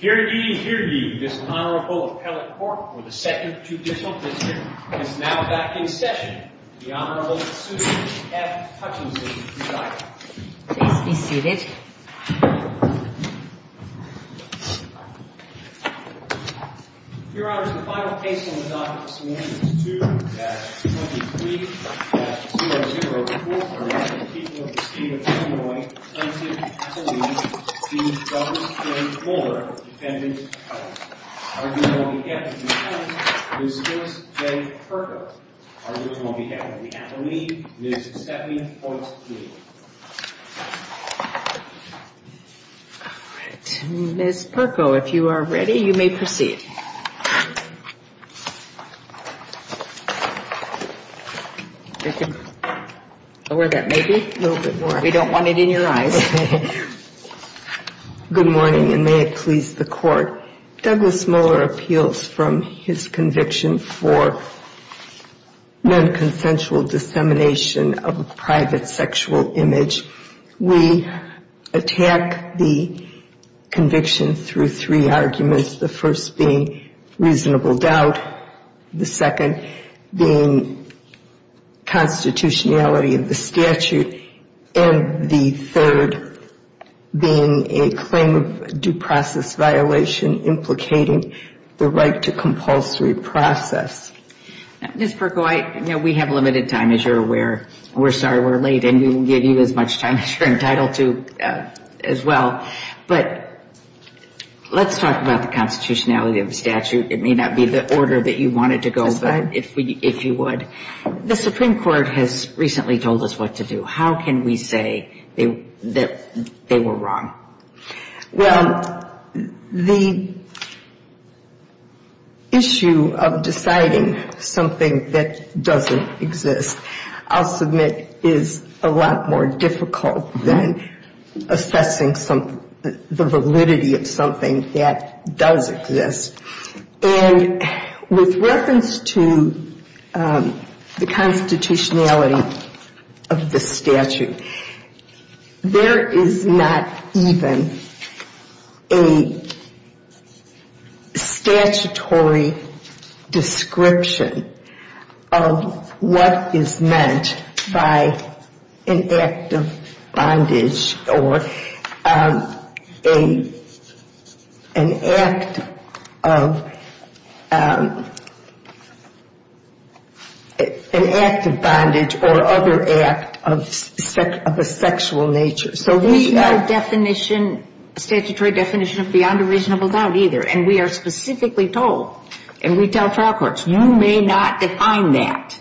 Heredie, heredie, this Honorable Appellate Court for the 2nd Judicial District is now back in session. The Honorable Susan F. Hutchinson, presiding. Please be seated. Your Honor, the final case on the docket this morning is 2-23-004. The people of the state of Illinois plaintiff Appellee v. Douglas J. Moeller, defendant. Our jury will be headed by Ms. Joyce J. Perko. Our jurors will be headed by the Appellee, Ms. Stephanie Hoyts-Peele. Ms. Perko, if you are ready, you may proceed. Thank you. Lower that, maybe? A little bit more. We don't want it in your eyes. Good morning, and may it please the Court. Douglas Moeller appeals from his conviction for non-consensual dissemination of a private sexual image. We attack the conviction through three arguments, the first being reasonable doubt, the second being constitutionality of the statute, and the third being a claim of due process violation implicating the right to compulsory process. Ms. Perko, I know we have limited time, as you're aware. We're sorry we're late, and we'll give you as much time as you're entitled to as well. But let's talk about the constitutionality of the statute. It may not be the order that you wanted to go with, if you would. The Supreme Court has recently told us what to do. How can we say that they were wrong? Well, the issue of deciding something that doesn't exist, I'll submit, is a lot more difficult than assessing the validity of something that does exist. And with reference to the constitutionality of the statute, there is not even a statutory description of what is meant by an act of bondage or an act of bondage or other act of a sexual nature. There is no definition, statutory definition of beyond a reasonable doubt either. And we are specifically told, and we tell trial courts, you may not define that.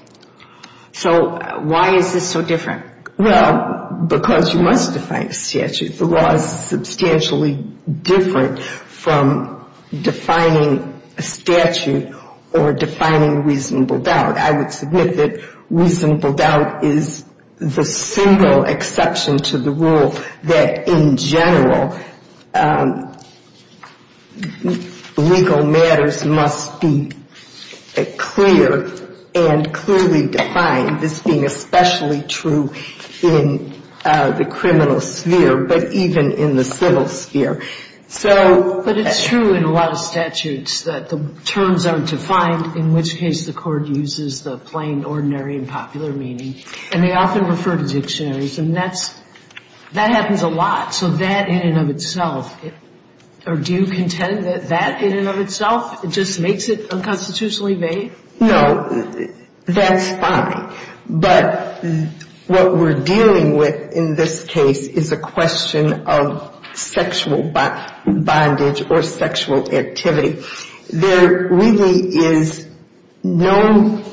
So why is this so different? Well, because you must define a statute. The law is substantially different from defining a statute or defining reasonable doubt. I would submit that reasonable doubt is the single exception to the rule that, in general, legal matters must be clear and clearly defined, this being especially true in the criminal sphere, but even in the civil sphere. But it's true in a lot of statutes that the terms aren't defined, in which case the court uses the plain, ordinary and popular meaning. And they often refer to dictionaries. And that happens a lot. So that, in and of itself, or do you contend that that, in and of itself, just makes it unconstitutionally vague? No, that's fine. But what we're dealing with in this case is a question of sexual bondage or sexual activity. There really is no,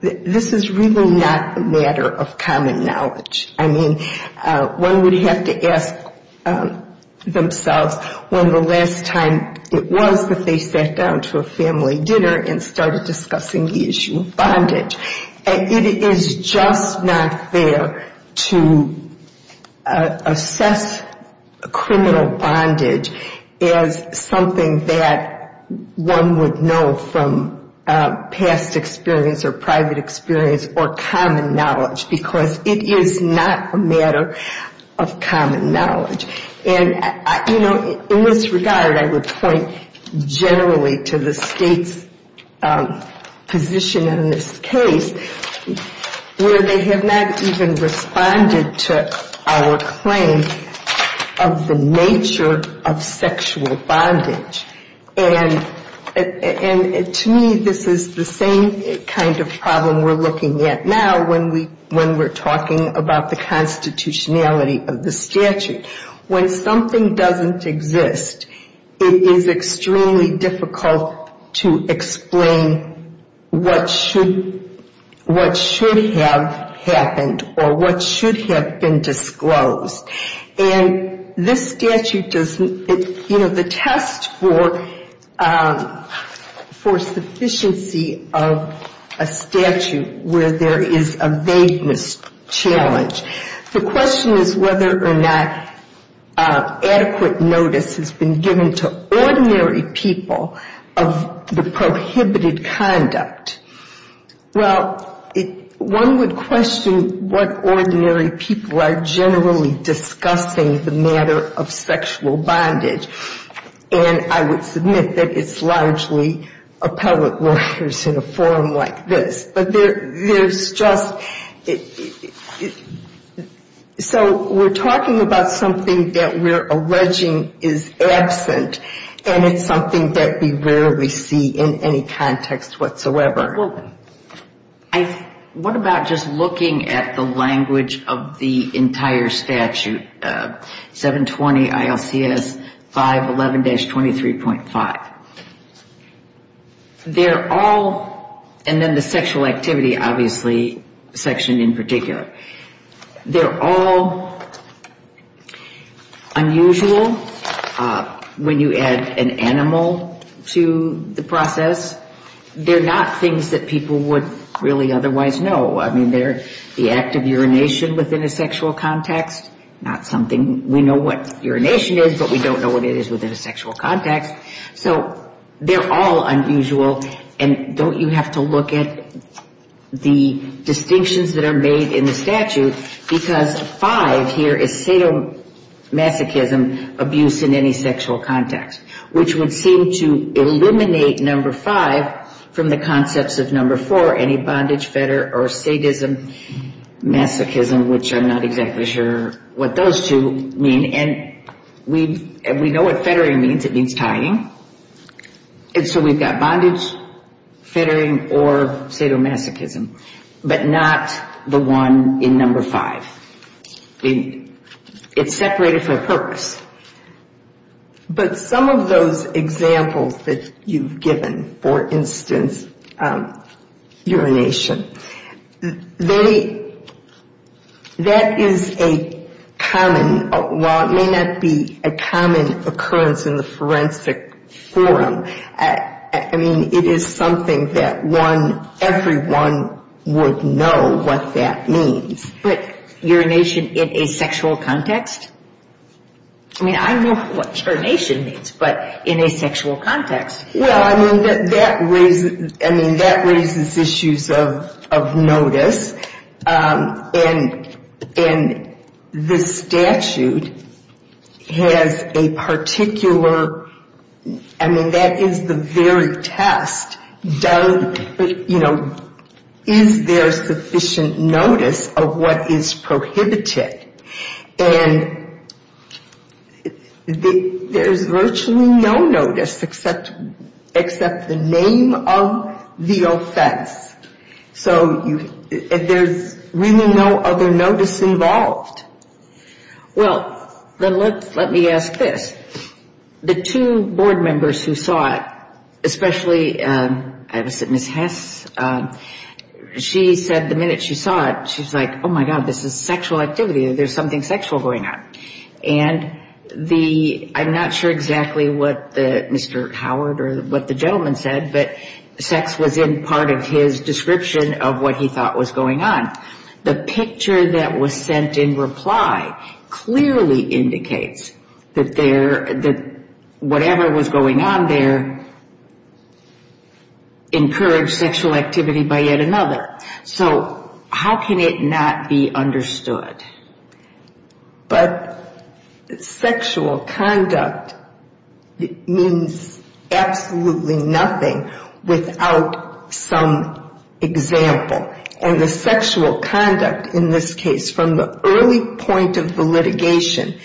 this is really not a matter of common knowledge. I mean, one would have to ask themselves when the last time it was that they sat down to a family dinner and started discussing the issue of bondage. It is just not fair to assess criminal bondage as something that one would know from past experience or private experience or common knowledge, because it is not a matter of common knowledge. And, you know, in this regard, I would point generally to the state's position in this case, where they have not even responded to our claim of the nature of sexual bondage. And to me, this is the same kind of problem we're looking at now when we're talking about the constitutionality of the statute. When something doesn't exist, it is extremely difficult to explain what should have happened or what should have been disclosed. And this statute doesn't, you know, the test for sufficiency of a statute where there is a vagueness challenge. The question is whether or not adequate notice has been given to ordinary people of the prohibited conduct. Well, one would question what ordinary people are generally discussing the matter of sexual bondage. And I would submit that it's largely appellate lawyers in a forum like this. But there's just so we're talking about something that we're alleging is absent, and it's something that we rarely see in any context whatsoever. What about just looking at the language of the entire statute, 720 ILCS 511-23.5? They're all, and then the sexual activity, obviously, section in particular, they're all unusual when you add an animal to the process. They're not things that people would really otherwise know. I mean, they're the act of urination within a sexual context, not something, we know what urination is, but we don't know what it is within a sexual context. So they're all unusual, and don't you have to look at the distinctions that are made in the statute, because five here is sadomasochism, abuse in any sexual context, which would seem to eliminate number five from the concepts of number four, any bondage, fetter, or sadism, masochism, which I'm not exactly sure what those two mean. And we know what fettering means, it means tying. And so we've got bondage, fettering, or sadomasochism, but not the one in number five. It's separated for a purpose. But some of those examples that you've given, for instance, urination, that is a common, while it may not be a common occurrence in the forensic forum, I mean, it is something that everyone would know what that means. But urination in a sexual context? I mean, I know what urination means, but in a sexual context? Well, I mean, that raises issues of notice. And the statute has a particular, I mean, that is the very test, you know, is there sufficient notice of what is prohibited? And there's virtually no notice except the name of the offense. So there's really no other notice involved. Well, then let me ask this. The two board members who saw it, especially Miss Hess, she said the minute she saw it, she was like, there's something sexual going on. And I'm not sure exactly what Mr. Howard or what the gentleman said, but sex was in part of his description of what he thought was going on. The picture that was sent in reply clearly indicates that whatever was going on there encouraged sexual activity by yet another. So how can it not be understood? But sexual conduct means absolutely nothing without some example. And the sexual conduct in this case, from the early point of the litigation,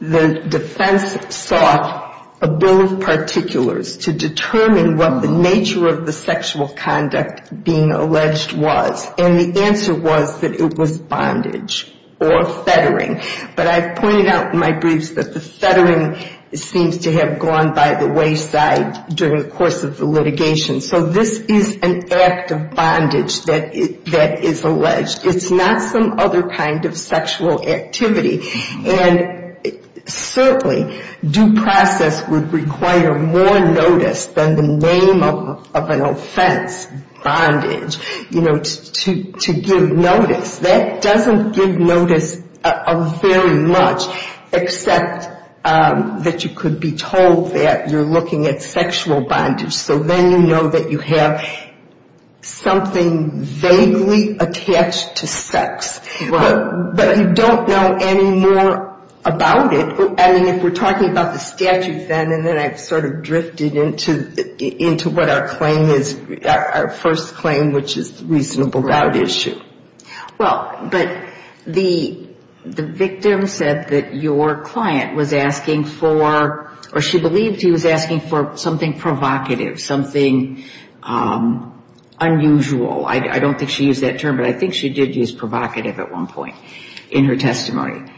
the defense sought a bill of particulars to determine what the nature of the sexual conduct being alleged was. And the answer was that it was bondage or fettering. But I've pointed out in my briefs that the fettering seems to have gone by the wayside during the course of the litigation. So this is an act of bondage that is alleged. It's not some other kind of sexual activity. And certainly due process would require more notice than the name of an offense, bondage, you know, to give notice. That doesn't give notice very much except that you could be told that you're looking at sexual bondage. So then you know that you have something vaguely attached to sex. But you don't know any more about it. I mean, if we're talking about the statute then, and then I've sort of drifted into what our claim is, our first claim, which is reasonable about issue. Well, but the victim said that your client was asking for, or she believed he was asking for something provocative, something unusual. I don't think she used that term, but I think she did use provocative at one point in her testimony.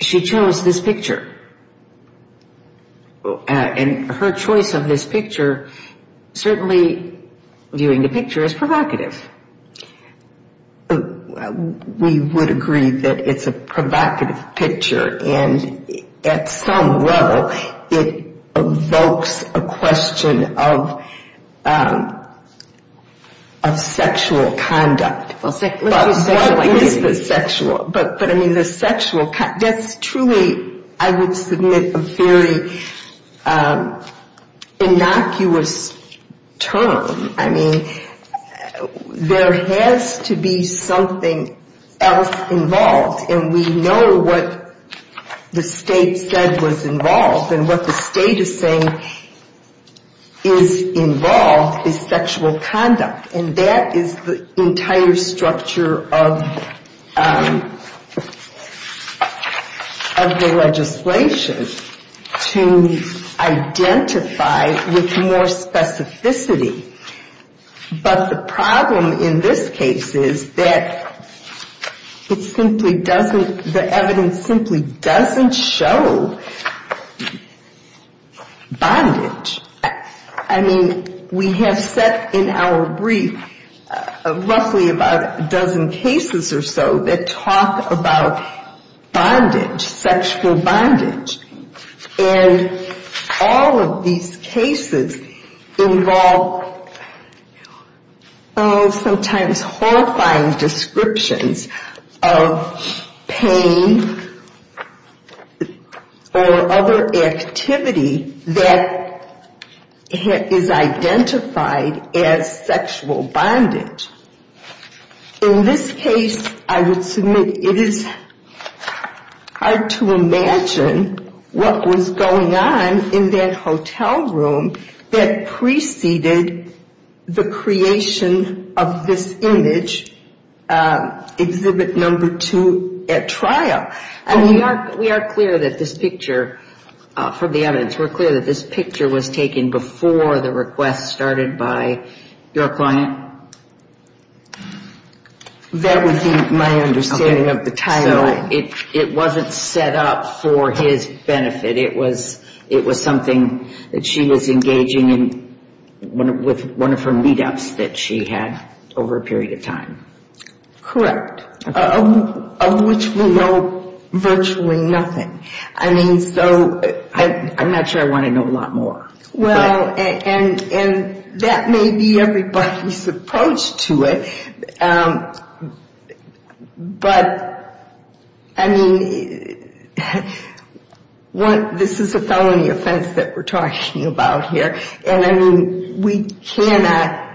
She chose this picture. And her choice of this picture, certainly viewing the picture as provocative. We would agree that it's a provocative picture. And at some level it evokes a question of sexual conduct. But what is the sexual? But I mean, the sexual, that's truly, I would submit, a very innocuous term. I mean, there has to be something else involved. And we know what the state said was involved. And what the state is saying is involved is sexual conduct. And that is the entire structure of the legislation, to identify with more specificity. But the problem in this case is that it simply doesn't, the evidence simply doesn't show bondage. I mean, we have set in our brief roughly about a dozen cases or so that talk about bondage, sexual bondage. And all of these cases involve sometimes horrifying descriptions of pain or other activity that is identified as sexual bondage. In this case, I would submit it is hard to imagine what was going on in that hotel room that preceded the creation of this image, Exhibit No. 2 at trial. And we are clear that this picture, from the evidence, we're clear that this picture was taken before the request started by your client. That would be my understanding of the timeline. So it wasn't set up for his benefit. It was something that she was engaging in with one of her meetups that she had over a period of time. Correct. Of which we know virtually nothing. I mean, so I'm not sure I want to know a lot more. Well, and that may be everybody's approach to it. But, I mean, this is a felony offense that we're talking about here. And, I mean, we cannot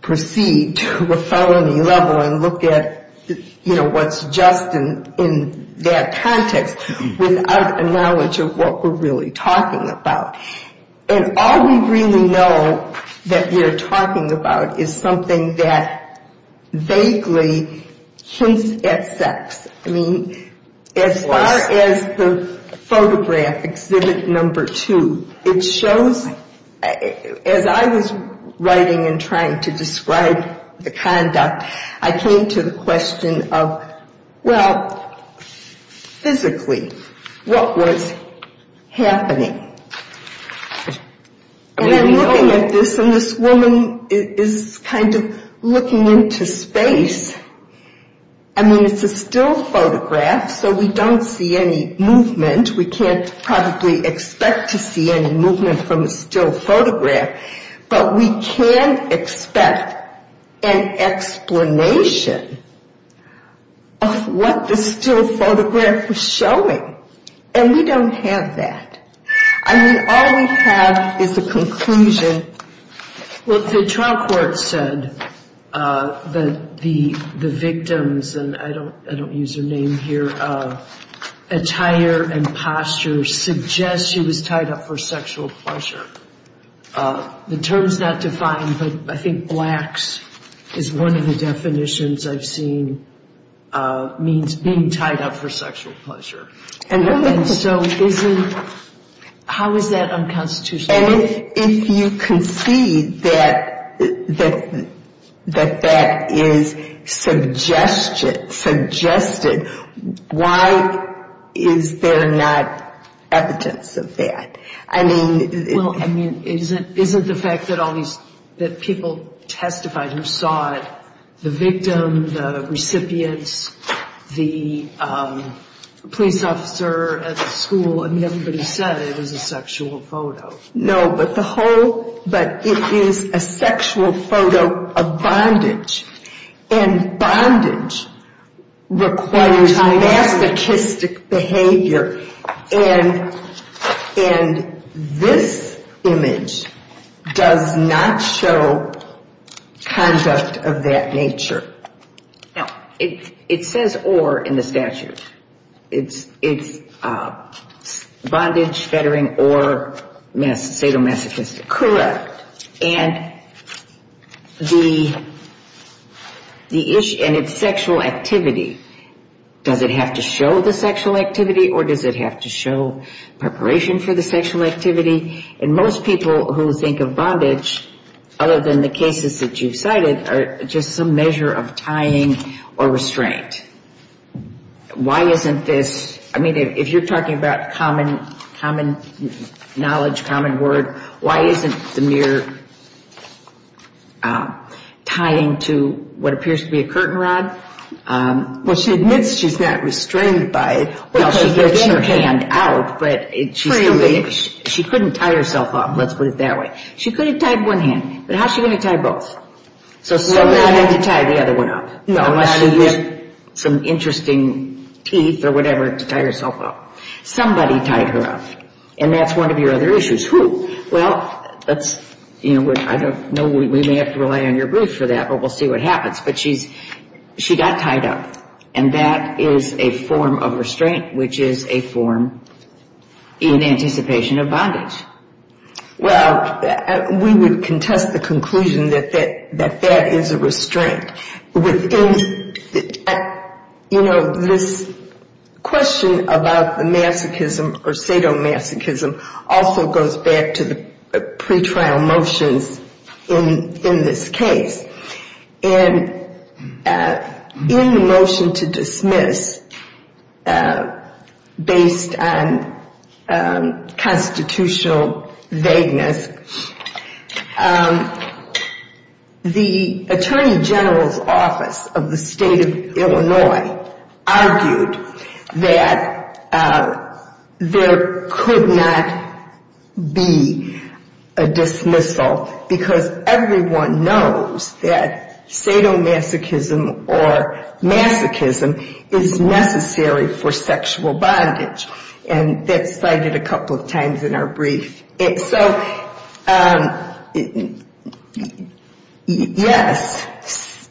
proceed to a felony level and look at, you know, what's just in that context without a knowledge of what we're really talking about. And all we really know that we're talking about is something that vaguely hints at sex. I mean, as far as the photograph, Exhibit No. 2, it shows, as I was writing and trying to describe the conduct, I came to the question of, well, physically, what was happening? And I'm looking at this, and this woman is kind of looking into space. I mean, it's a still photograph, so we don't see any movement. We can't probably expect to see any movement from a still photograph. But we can expect an explanation of what the still photograph was showing. And we don't have that. I mean, all we have is the conclusion. Well, the trial court said that the victims, and I don't use their name here, attire and posture suggests she was tied up for sexual pleasure. The term's not defined, but I think blacks is one of the definitions I've seen means being tied up for sexual pleasure. And so isn't — how is that unconstitutional? And if you concede that that is suggested, why is there not evidence of that? Well, I mean, isn't the fact that all these — that people testified who saw it, the victim, the recipients, the police officer at the school, I mean, everybody said it was a sexual photo. No, but the whole — but it is a sexual photo of bondage. And bondage requires masochistic behavior. And this image does not show conduct of that nature. Now, it says or in the statute. It's bondage, fettering, or sadomasochistic. Correct. And the issue — and it's sexual activity. Does it have to show the sexual activity or does it have to show preparation for the sexual activity? And most people who think of bondage, other than the cases that you've cited, are just some measure of tying or restraint. Why isn't this — I mean, if you're talking about common knowledge, common word, why isn't the mere tying to what appears to be a curtain rod? Well, she admits she's not restrained by it. Well, she gets her hand out, but she couldn't tie herself up. Let's put it that way. She could have tied one hand, but how's she going to tie both? So somebody had to tie the other one up. Unless she used some interesting teeth or whatever to tie herself up. Somebody tied her up. And that's one of your other issues. Who? Well, I don't know. We may have to rely on your briefs for that, but we'll see what happens. But she got tied up. And that is a form of restraint, which is a form in anticipation of bondage. Well, we would contest the conclusion that that is a restraint. You know, this question about the masochism or sadomasochism also goes back to the pretrial motions in this case. And in the motion to dismiss, based on constitutional vagueness, the Attorney General's Office of the State of Illinois argued that there could not be a dismissal, because everyone knows that sadomasochism or masochism is necessary for sexual bondage. And that's cited a couple of times in our brief. So, yes,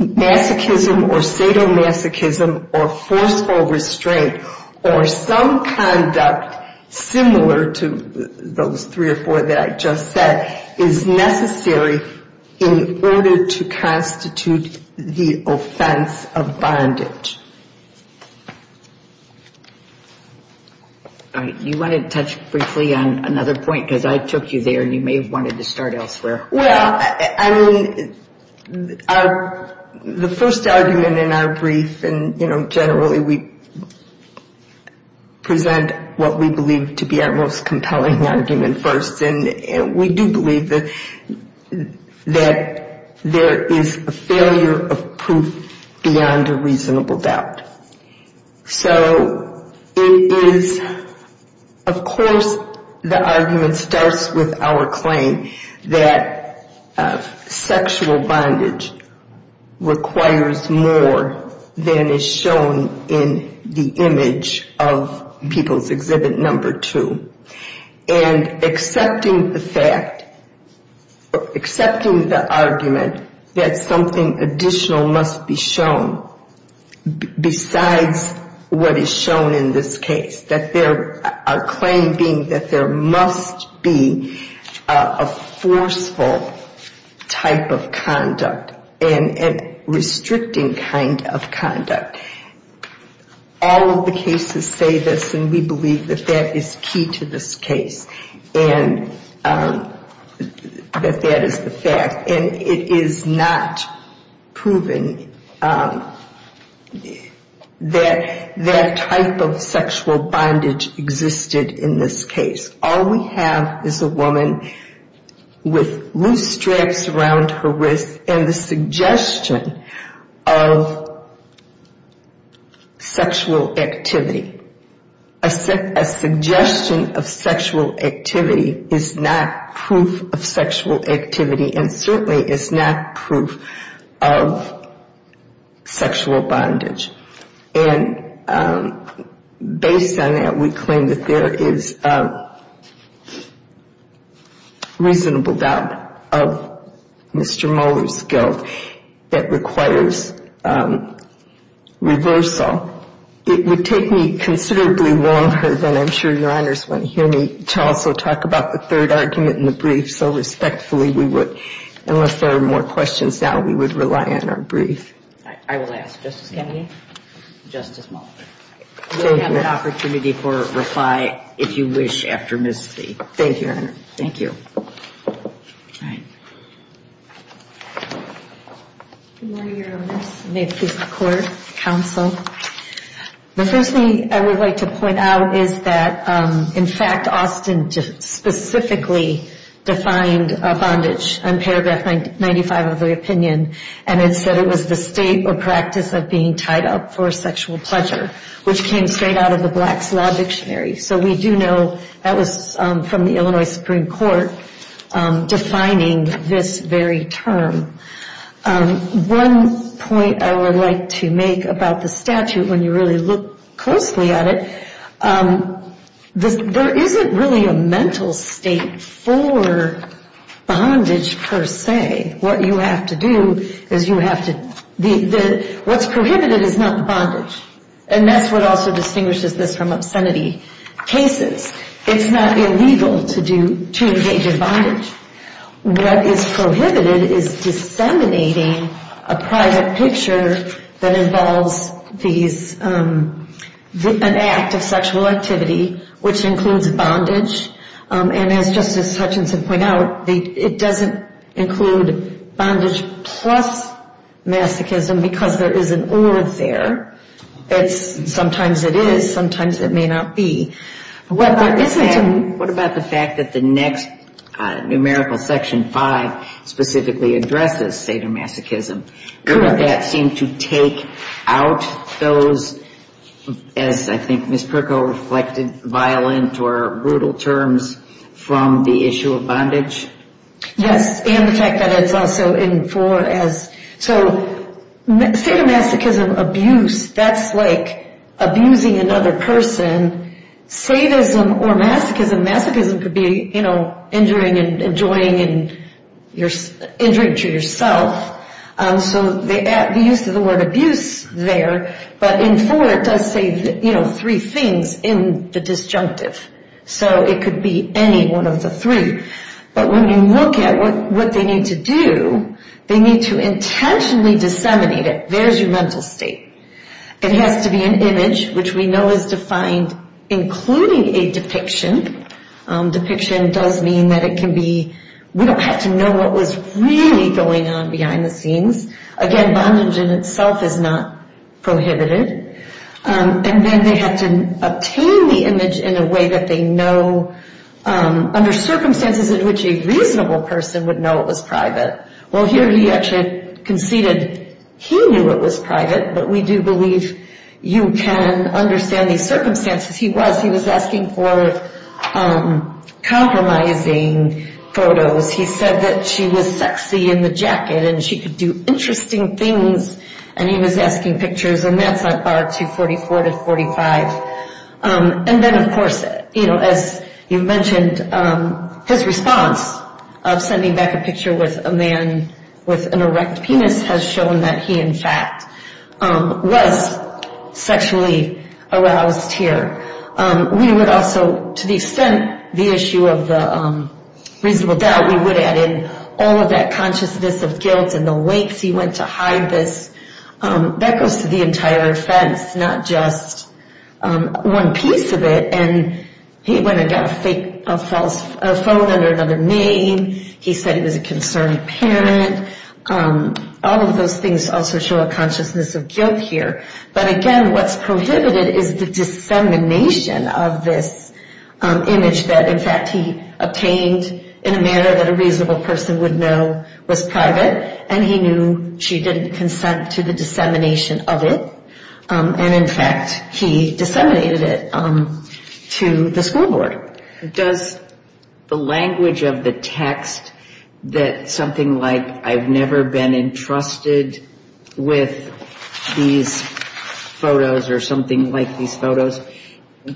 masochism or sadomasochism or forceful restraint or some conduct similar to those three or four that I just said is necessary in order to constitute the offense of bondage. All right. You wanted to touch briefly on another point, because I took you there, and you may have wanted to start elsewhere. Well, I mean, the first argument in our brief, and, you know, generally we present what we believe to be our most compelling argument first. And we do believe that there is a failure of proof beyond a reasonable doubt. So it is, of course, the argument starts with our claim that sexual bondage requires more than is shown in the image of People's Exhibit Number 2. And accepting the fact, accepting the argument that something additional must be shown besides what is shown in this case, that there, our claim being that there must be a forceful type of conduct and restricting kind of conduct. All of the cases say this, and we believe that that is key to this case and that that is the fact. And it is not proven that that type of sexual bondage existed in this case. All we have is a woman with loose straps around her wrist and the suggestion of sexual activity. A suggestion of sexual activity is not proof of sexual activity and certainly is not proof of sexual bondage. And based on that, we claim that there is a reasonable doubt of Mr. Moller's guilt that requires reversal. It would take me considerably longer than I'm sure Your Honors want to hear me also talk about the third argument in the brief. So respectfully, we would, unless there are more questions now, we would rely on our brief. I will ask Justice Kennedy, Justice Moller. We'll have an opportunity for reply if you wish after Ms. Lee. Thank you, Your Honor. Thank you. All right. Good morning, Your Honors. May it please the Court, Counsel. The first thing I would like to point out is that, in fact, Austin specifically defined bondage on paragraph 95 of the opinion. And it said it was the state or practice of being tied up for sexual pleasure, which came straight out of the Black's Law Dictionary. So we do know that was from the Illinois Supreme Court defining this very term. One point I would like to make about the statute, when you really look closely at it, there isn't really a mental state for bondage per se. What you have to do is you have to – what's prohibited is not bondage. And that's what also distinguishes this from obscenity cases. It's not illegal to engage in bondage. What is prohibited is disseminating a private picture that involves these – an act of sexual activity, which includes bondage. And as Justice Hutchinson pointed out, it doesn't include bondage plus masochism because there is an or there. Sometimes it is, sometimes it may not be. What about the fact that the next numerical, Section 5, specifically addresses sadomasochism? Could that seem to take out those, as I think Ms. Pirco reflected, violent or brutal terms from the issue of bondage? Yes, and the fact that it's also in for as – so sadomasochism, abuse, that's like abusing another person. Sadism or masochism, masochism could be injuring and enjoying and injuring to yourself. So the use of the word abuse there, but in for it does say three things in the disjunctive. So it could be any one of the three. But when you look at what they need to do, they need to intentionally disseminate it. There's your mental state. It has to be an image, which we know is defined including a depiction. Depiction does mean that it can be – we don't have to know what was really going on behind the scenes. Again, bondage in itself is not prohibited. And then they have to obtain the image in a way that they know under circumstances in which a reasonable person would know it was private. Well, here he actually conceded he knew it was private, but we do believe you can understand these circumstances. He was – he was asking for compromising photos. He said that she was sexy in the jacket and she could do interesting things, and he was asking pictures. And that's on bar 244 to 45. And then, of course, you know, as you mentioned, his response of sending back a picture with a man with an erect penis has shown that he, in fact, was sexually aroused here. We would also, to the extent the issue of the reasonable doubt, we would add in all of that consciousness of guilt and the ways he went to hide this. That goes to the entire offense, not just one piece of it. And he went and got a fake – a false – a phone under another name. He said he was a concerned parent. All of those things also show a consciousness of guilt here. But again, what's prohibited is the dissemination of this image that, in fact, he obtained in a manner that a reasonable person would know was private. And he knew she didn't consent to the dissemination of it. And, in fact, he disseminated it to the school board. Does the language of the text that something like, I've never been entrusted with these photos or something like these photos,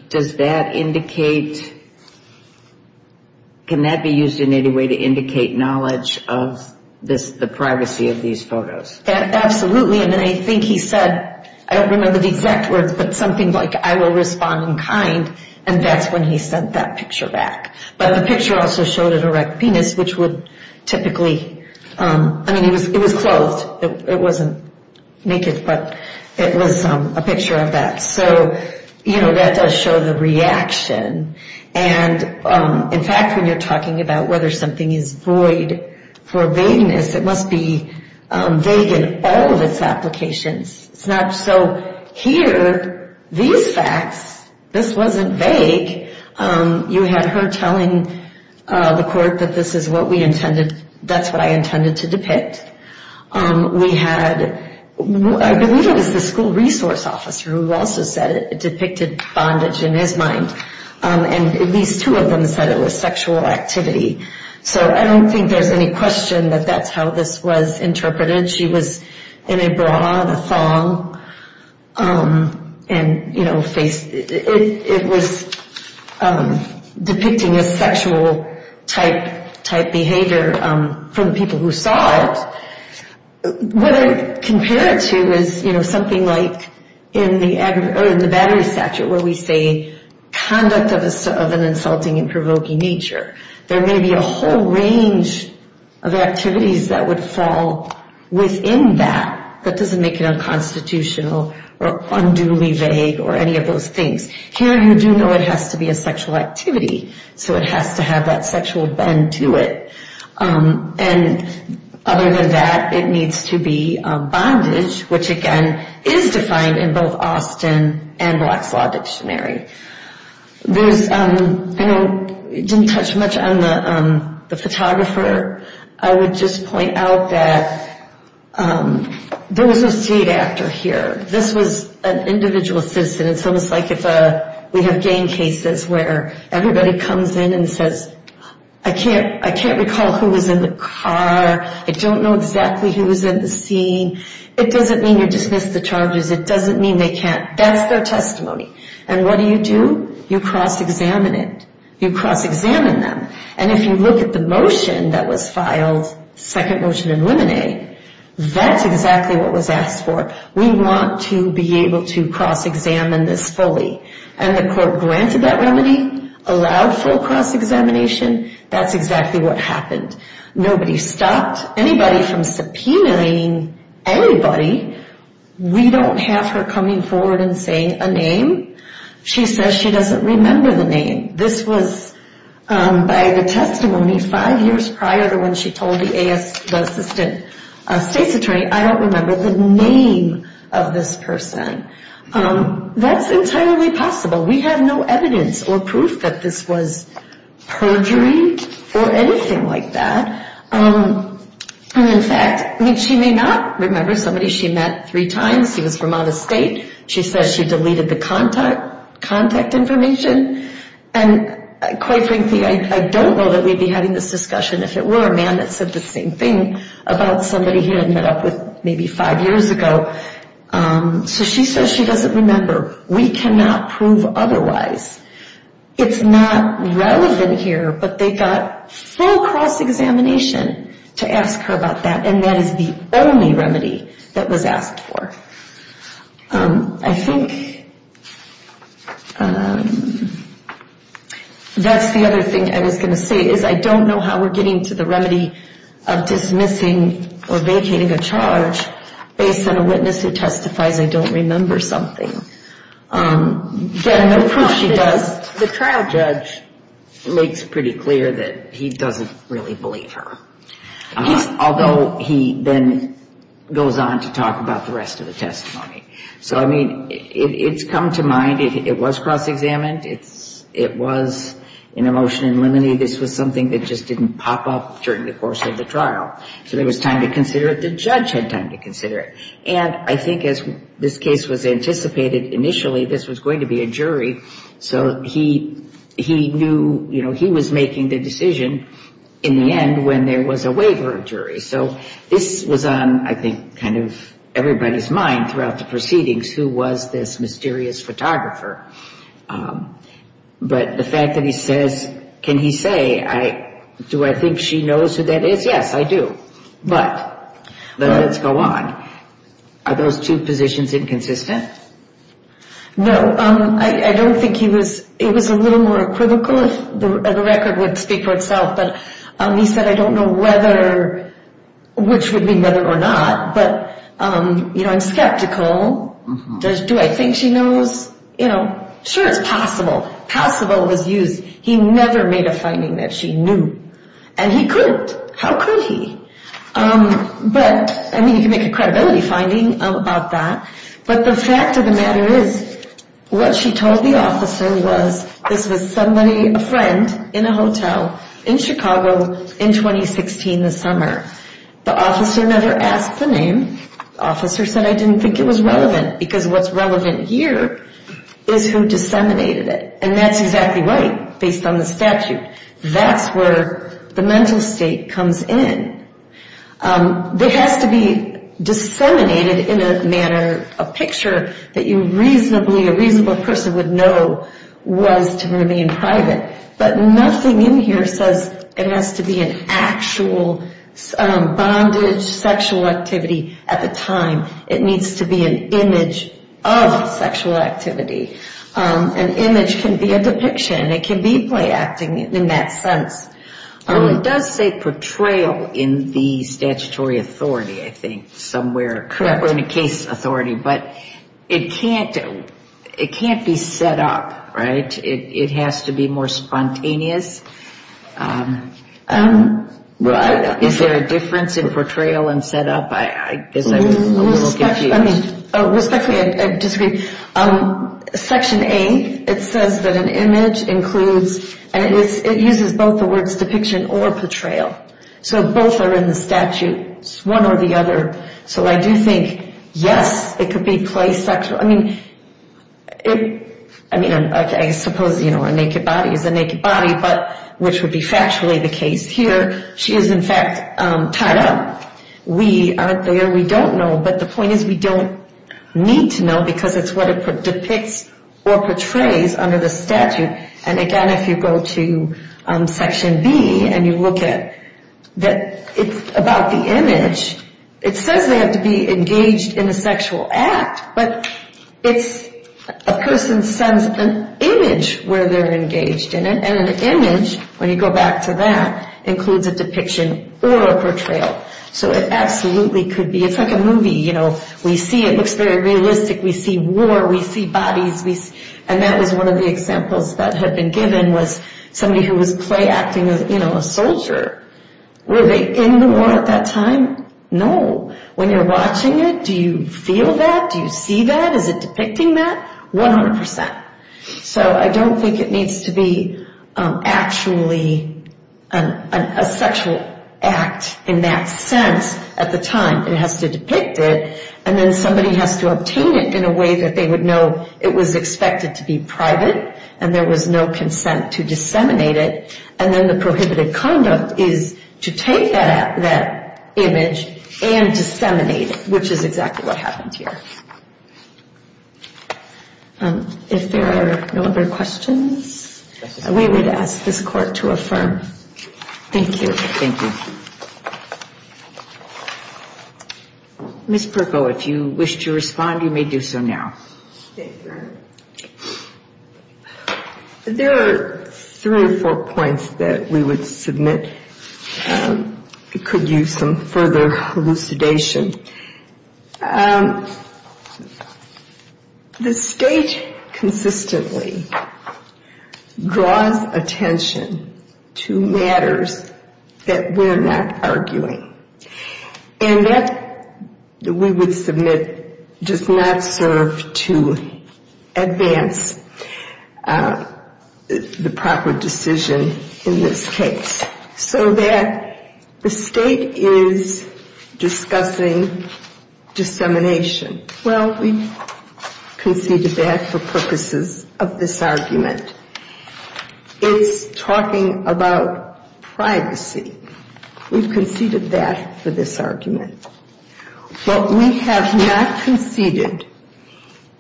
does that indicate – can that be used in any way to indicate knowledge of the person? Absolutely. And I think he said – I don't remember the exact words, but something like, I will respond in kind. And that's when he sent that picture back. But the picture also showed an erect penis, which would typically – I mean, it was clothed. It wasn't naked, but it was a picture of that. So, you know, that does show the reaction. And, in fact, when you're talking about whether something is void for vagueness, it must be vague in all of its applications. It's not – so here, these facts, this wasn't vague. You had her telling the court that this is what we intended – that's what I intended to depict. We had – I believe it was the school resource officer who also said it depicted bondage in his mind. And at least two of them said it was sexual activity. So I don't think there's any question that that's how this was interpreted. She was in a bra and a thong and, you know, it was depicting a sexual-type behavior from the people who saw it. What I compare it to is, you know, something like in the Battery Statute, where we say conduct of an insulting and provoking nature. There may be a whole range of activities that would fall within that that doesn't make it unconstitutional or unduly vague or any of those things. Here, you do know it has to be a sexual activity, so it has to have that sexual bend to it. And other than that, it needs to be bondage, which, again, is defined in both Austin and Black's Law Dictionary. There's – I know it didn't touch much on the photographer. I would just point out that there was a state actor here. This was an individual citizen. It's almost like if we have gang cases where everybody comes in and says, I can't recall who was in the car. I don't know exactly who was in the scene. It doesn't mean you dismiss the charges. It doesn't mean they can't. That's their testimony. And what do you do? You cross-examine it. You cross-examine them. And if you look at the motion that was filed, second motion in limine, that's exactly what was asked for. We want to be able to cross-examine this fully. And the court granted that remedy, allowed full cross-examination. That's exactly what happened. Nobody stopped anybody from subpoenaing anybody. We don't have her coming forward and saying a name. She says she doesn't remember the name. This was by the testimony five years prior to when she told the assistant state's attorney, I don't remember the name of this person. That's entirely possible. We have no evidence or proof that this was perjury or anything like that. And in fact, she may not remember somebody she met three times. She was from out of state. She says she deleted the contact information. And quite frankly, I don't know that we'd be having this discussion if it were a man that said the same thing about somebody he had met up with maybe five years ago. So she says she doesn't remember. We cannot prove otherwise. It's not relevant here, but they got full cross-examination to ask her about that. And that is the only remedy that was asked for. I think that's the other thing I was going to say is I don't know how we're getting to the remedy of dismissing or vacating a charge based on a witness who testifies I don't remember something. The trial judge makes pretty clear that he doesn't really believe her. Although he then goes on to talk about the rest of the testimony. So, I mean, it's come to mind. It was cross-examined. It was an emotion in limine. Unfortunately, this was something that just didn't pop up during the course of the trial. So there was time to consider it. The judge had time to consider it. And I think as this case was anticipated initially, this was going to be a jury. So he knew he was making the decision in the end when there was a waiver of jury. So this was on, I think, kind of everybody's mind throughout the proceedings. Who was this mysterious photographer? But the fact that he says, can he say, do I think she knows who that is? Yes, I do. But let's go on. Are those two positions inconsistent? No, I don't think he was. It was a little more equivocal. The record would speak for itself. But he said, I don't know whether which would be better or not. But, you know, I'm skeptical. Does do I think she knows? You know, sure, it's possible. Possible was used. He never made a finding that she knew. And he could. How could he? But I mean, you can make a credibility finding about that. But the fact of the matter is what she told the officer was this was somebody, a friend in a hotel in Chicago in 2016 this summer. The officer never asked the name. Officer said I didn't think it was relevant because what's relevant here is who disseminated it. And that's exactly right. Based on the statute, that's where the mental state comes in. It has to be disseminated in a manner, a picture that you reasonably a reasonable person would know was to remain private. But nothing in here says it has to be an actual bondage sexual activity at the time. It needs to be an image of sexual activity. An image can be a depiction. It can be play acting in that sense. It does say portrayal in the statutory authority, I think, somewhere. Or in a case authority. But it can't be set up, right? It has to be more spontaneous. Is there a difference in portrayal and set up? Respectfully, I disagree. Section A, it says that an image includes, and it uses both the words depiction or portrayal. So both are in the statute, one or the other. So I do think, yes, it could be play sexual. I mean, I suppose a naked body is a naked body, but which would be factually the case here. She is, in fact, tied up. We aren't there. We don't know. But the point is we don't need to know because it's what it depicts or portrays under the statute. And again, if you go to Section B and you look at that, it's about the image. It says they have to be engaged in a sexual act, but a person sends an image where they're engaged in it. And an image, when you go back to that, includes a depiction or a portrayal. So it absolutely could be. It's like a movie. We see it looks very realistic. We see war. We see bodies. And that was one of the examples that had been given was somebody who was play acting a soldier. Were they in the war at that time? No. When you're watching it, do you feel that? Do you see that? Is it depicting that? One hundred percent. So I don't think it needs to be actually a sexual act in that sense at the time. It has to depict it, and then somebody has to obtain it in a way that they would know it was expected to be private and there was no consent to disseminate it. And then the prohibited conduct is to take that image and disseminate it, which is exactly what happened here. If there are no other questions, we would ask this Court to affirm. Thank you. Thank you. Ms. Perko, if you wish to respond, you may do so now. There are three or four points that we would submit. It could use some further elucidation. The State consistently draws attention to matters that we're not aware of. Matters that we're not arguing. And that we would submit does not serve to advance the proper decision in this case. So that the State is discussing dissemination. Well, we conceded that for purposes of this argument. It's talking about privacy. We've conceded that for this argument. What we have not conceded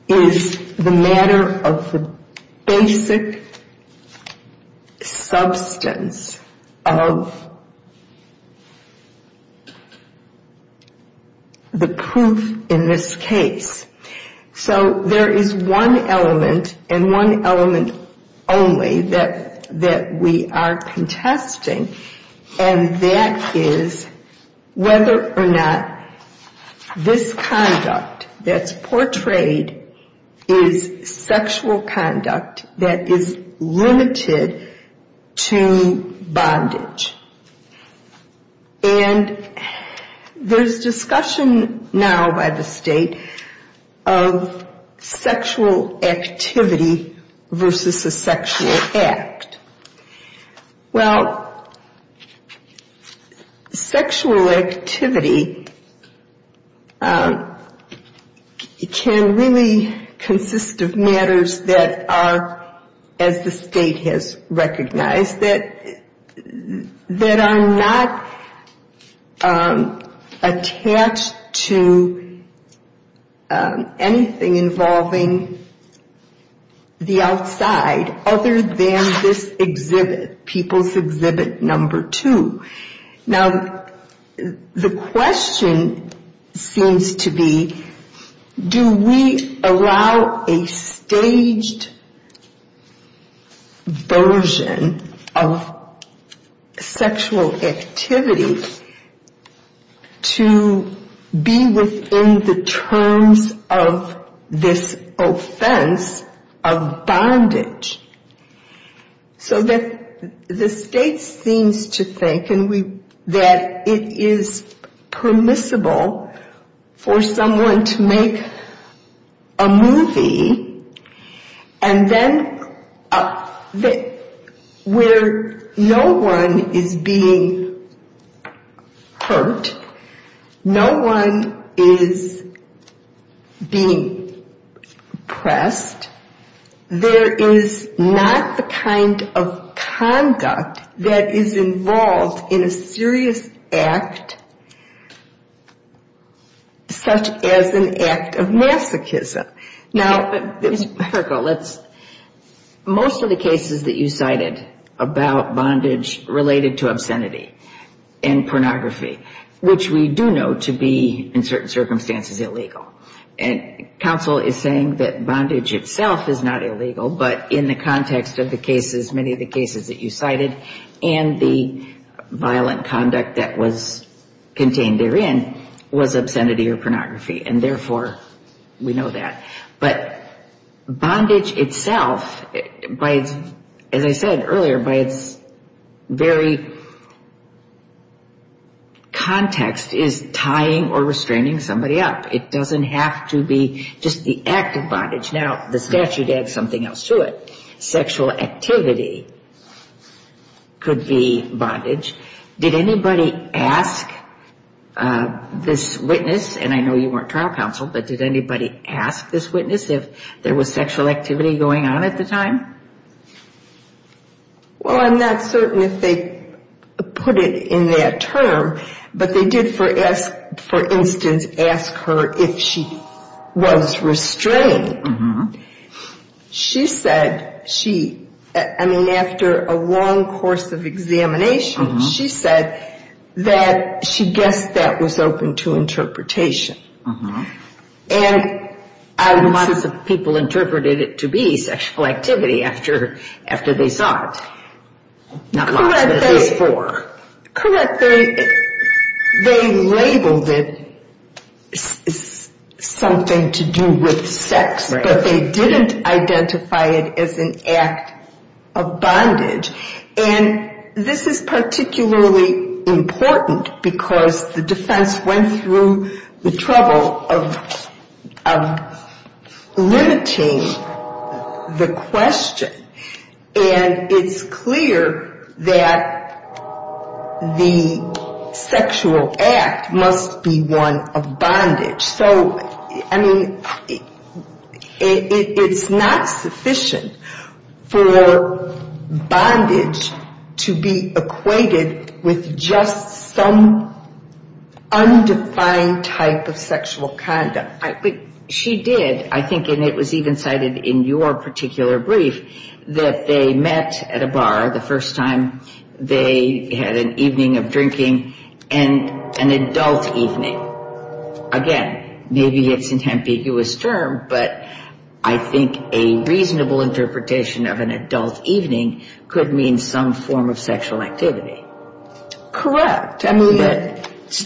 is the matter of the basic substance of the proof in this case. So there is one element and one element only that we are contesting. And that is whether or not this conduct that's portrayed is sexual conduct that is limited to bondage. And there's discussion now by the State of sexual activity versus a sexual act. Well, sexual activity can really consist of matters that are as the State has recognized. Matters that are not attached to anything involving the outside. Other than this exhibit. People's Exhibit Number Two. Now, the question seems to be, do we allow a staged version of this exhibit? Of sexual activity to be within the terms of this offense of bondage? So that the State seems to think that it is permissible for someone to make a movie. And then where no one is being hurt, no one is being oppressed. There is not the kind of conduct that is involved in a serious act such as an act of masochism. Now, Ms. Burkle, most of the cases that you cited about bondage related to obscenity and pornography, which we do know to be in certain circumstances illegal. And counsel is saying that bondage itself is not illegal, but in the context of the cases, many of the cases that you cited, and the violent conduct that was contained therein was obscenity or pornography. And therefore, we know that. But bondage itself, as I said earlier, by its very context is tying or restraining somebody up. It doesn't have to be just the act of bondage. Now, the statute adds something else to it. It says that sexual activity could be bondage. Did anybody ask this witness, and I know you weren't trial counsel, but did anybody ask this witness if there was sexual activity going on at the time? Well, I'm not certain if they put it in that term, but they did, for instance, ask her if she was restrained. She said she, I mean, after a long course of examination, she said that she guessed that was open to interpretation. And lots of people interpreted it to be sexual activity after they saw it. Not lots, but at least four. Correct. They labeled it something to do with sex, but they didn't identify it as an act of bondage. And this is particularly important because the defense went through the trouble of limiting the question. And it's clear that the sexual act must be one of bondage. So, I mean, it's not sufficient for bondage to be equated with just some undefined type of sexual conduct. But she did, I think, and it was even cited in your particular brief, that they met at a bar the first time, they had an evening of drinking, and an adult evening. Again, maybe it's an ambiguous term, but I think a reasonable interpretation of an adult evening could mean some form of sexual activity. Correct. I mean, this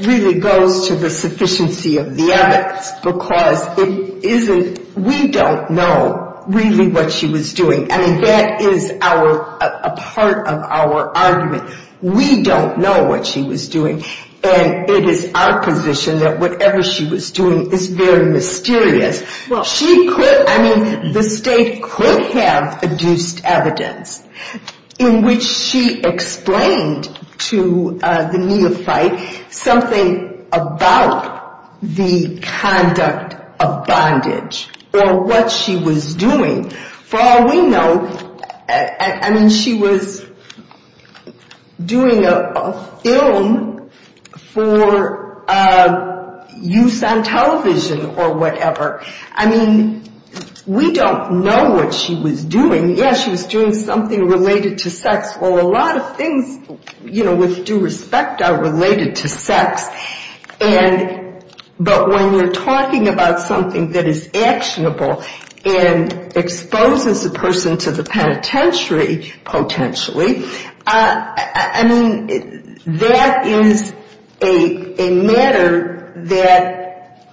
really goes to the sufficiency of the evidence, because it isn't, we don't know really what she was doing. I mean, that is a part of our argument. We don't know what she was doing, and it is our position that whatever she was doing is very mysterious. She could, I mean, the state could have adduced evidence in which she explained to the neophyte something about the conduct of bondage or what she was doing. For all we know, I mean, she was doing a film for use on television or whatever. I mean, we don't know what she was doing. Yes, she was doing something related to sex. Well, a lot of things, you know, with due respect are related to sex. But when you're talking about something that is actionable and exposes a person to the penitentiary, potentially, I mean, that is a matter that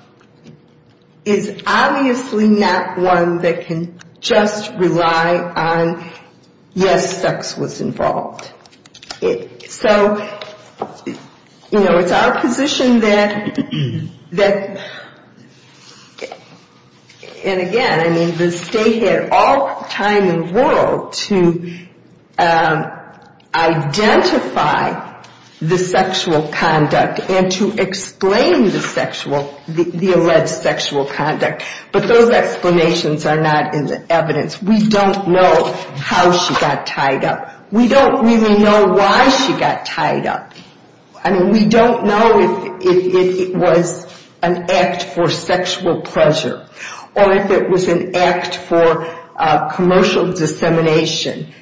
is obviously not one that can just rely on, yes, sex was involved. So, you know, it's our position that, and again, I mean, the state had all the time in the world to identify the sexual conduct and to explain the alleged sexual conduct, but those explanations are not in the evidence. We don't know how she got tied up. We don't really know why she got tied up. I mean, we don't know if it was an act for sexual pleasure or if it was an act for commercial dissemination.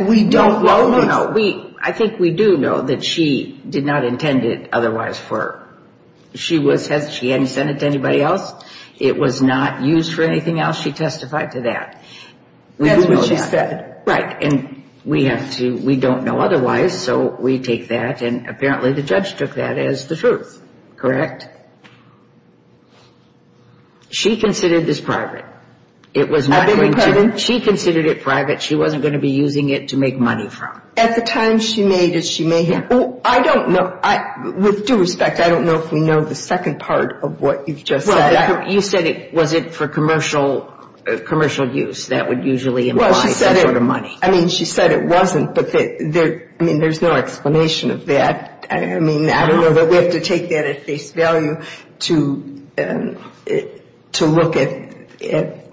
We don't know. I think we do know that she did not intend it otherwise for her. She hadn't sent it to anybody else. It was not used for anything else. She testified to that. That's what she said. Right, and we have to, we don't know otherwise, so we take that, and apparently the judge took that as the truth. Correct? She considered this private. It was not going to, she considered it private. She wasn't going to be using it to make money from. At the time she made it, she made it. I don't know, with due respect, I don't know if we know the second part of what you just said. You said was it for commercial use that would usually imply some sort of money. I mean, she said it wasn't, but there's no explanation of that. I don't know that we have to take that at face value to look at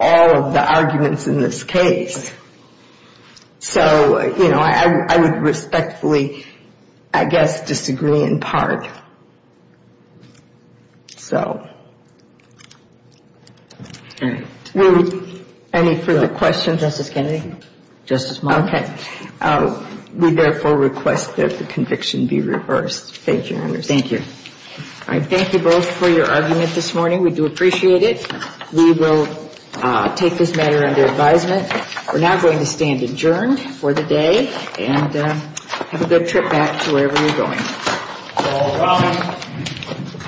all of the arguments in this case. So, you know, I would respectfully, I guess, disagree in part. So. Any further questions? We therefore request that the conviction be reversed. Thank you. Thank you both for your argument this morning. We do appreciate it. We will take this matter under advisement. We're now going to stand adjourned for the day and have a good trip back to wherever you're going. Thank you. Thank you. Thanks.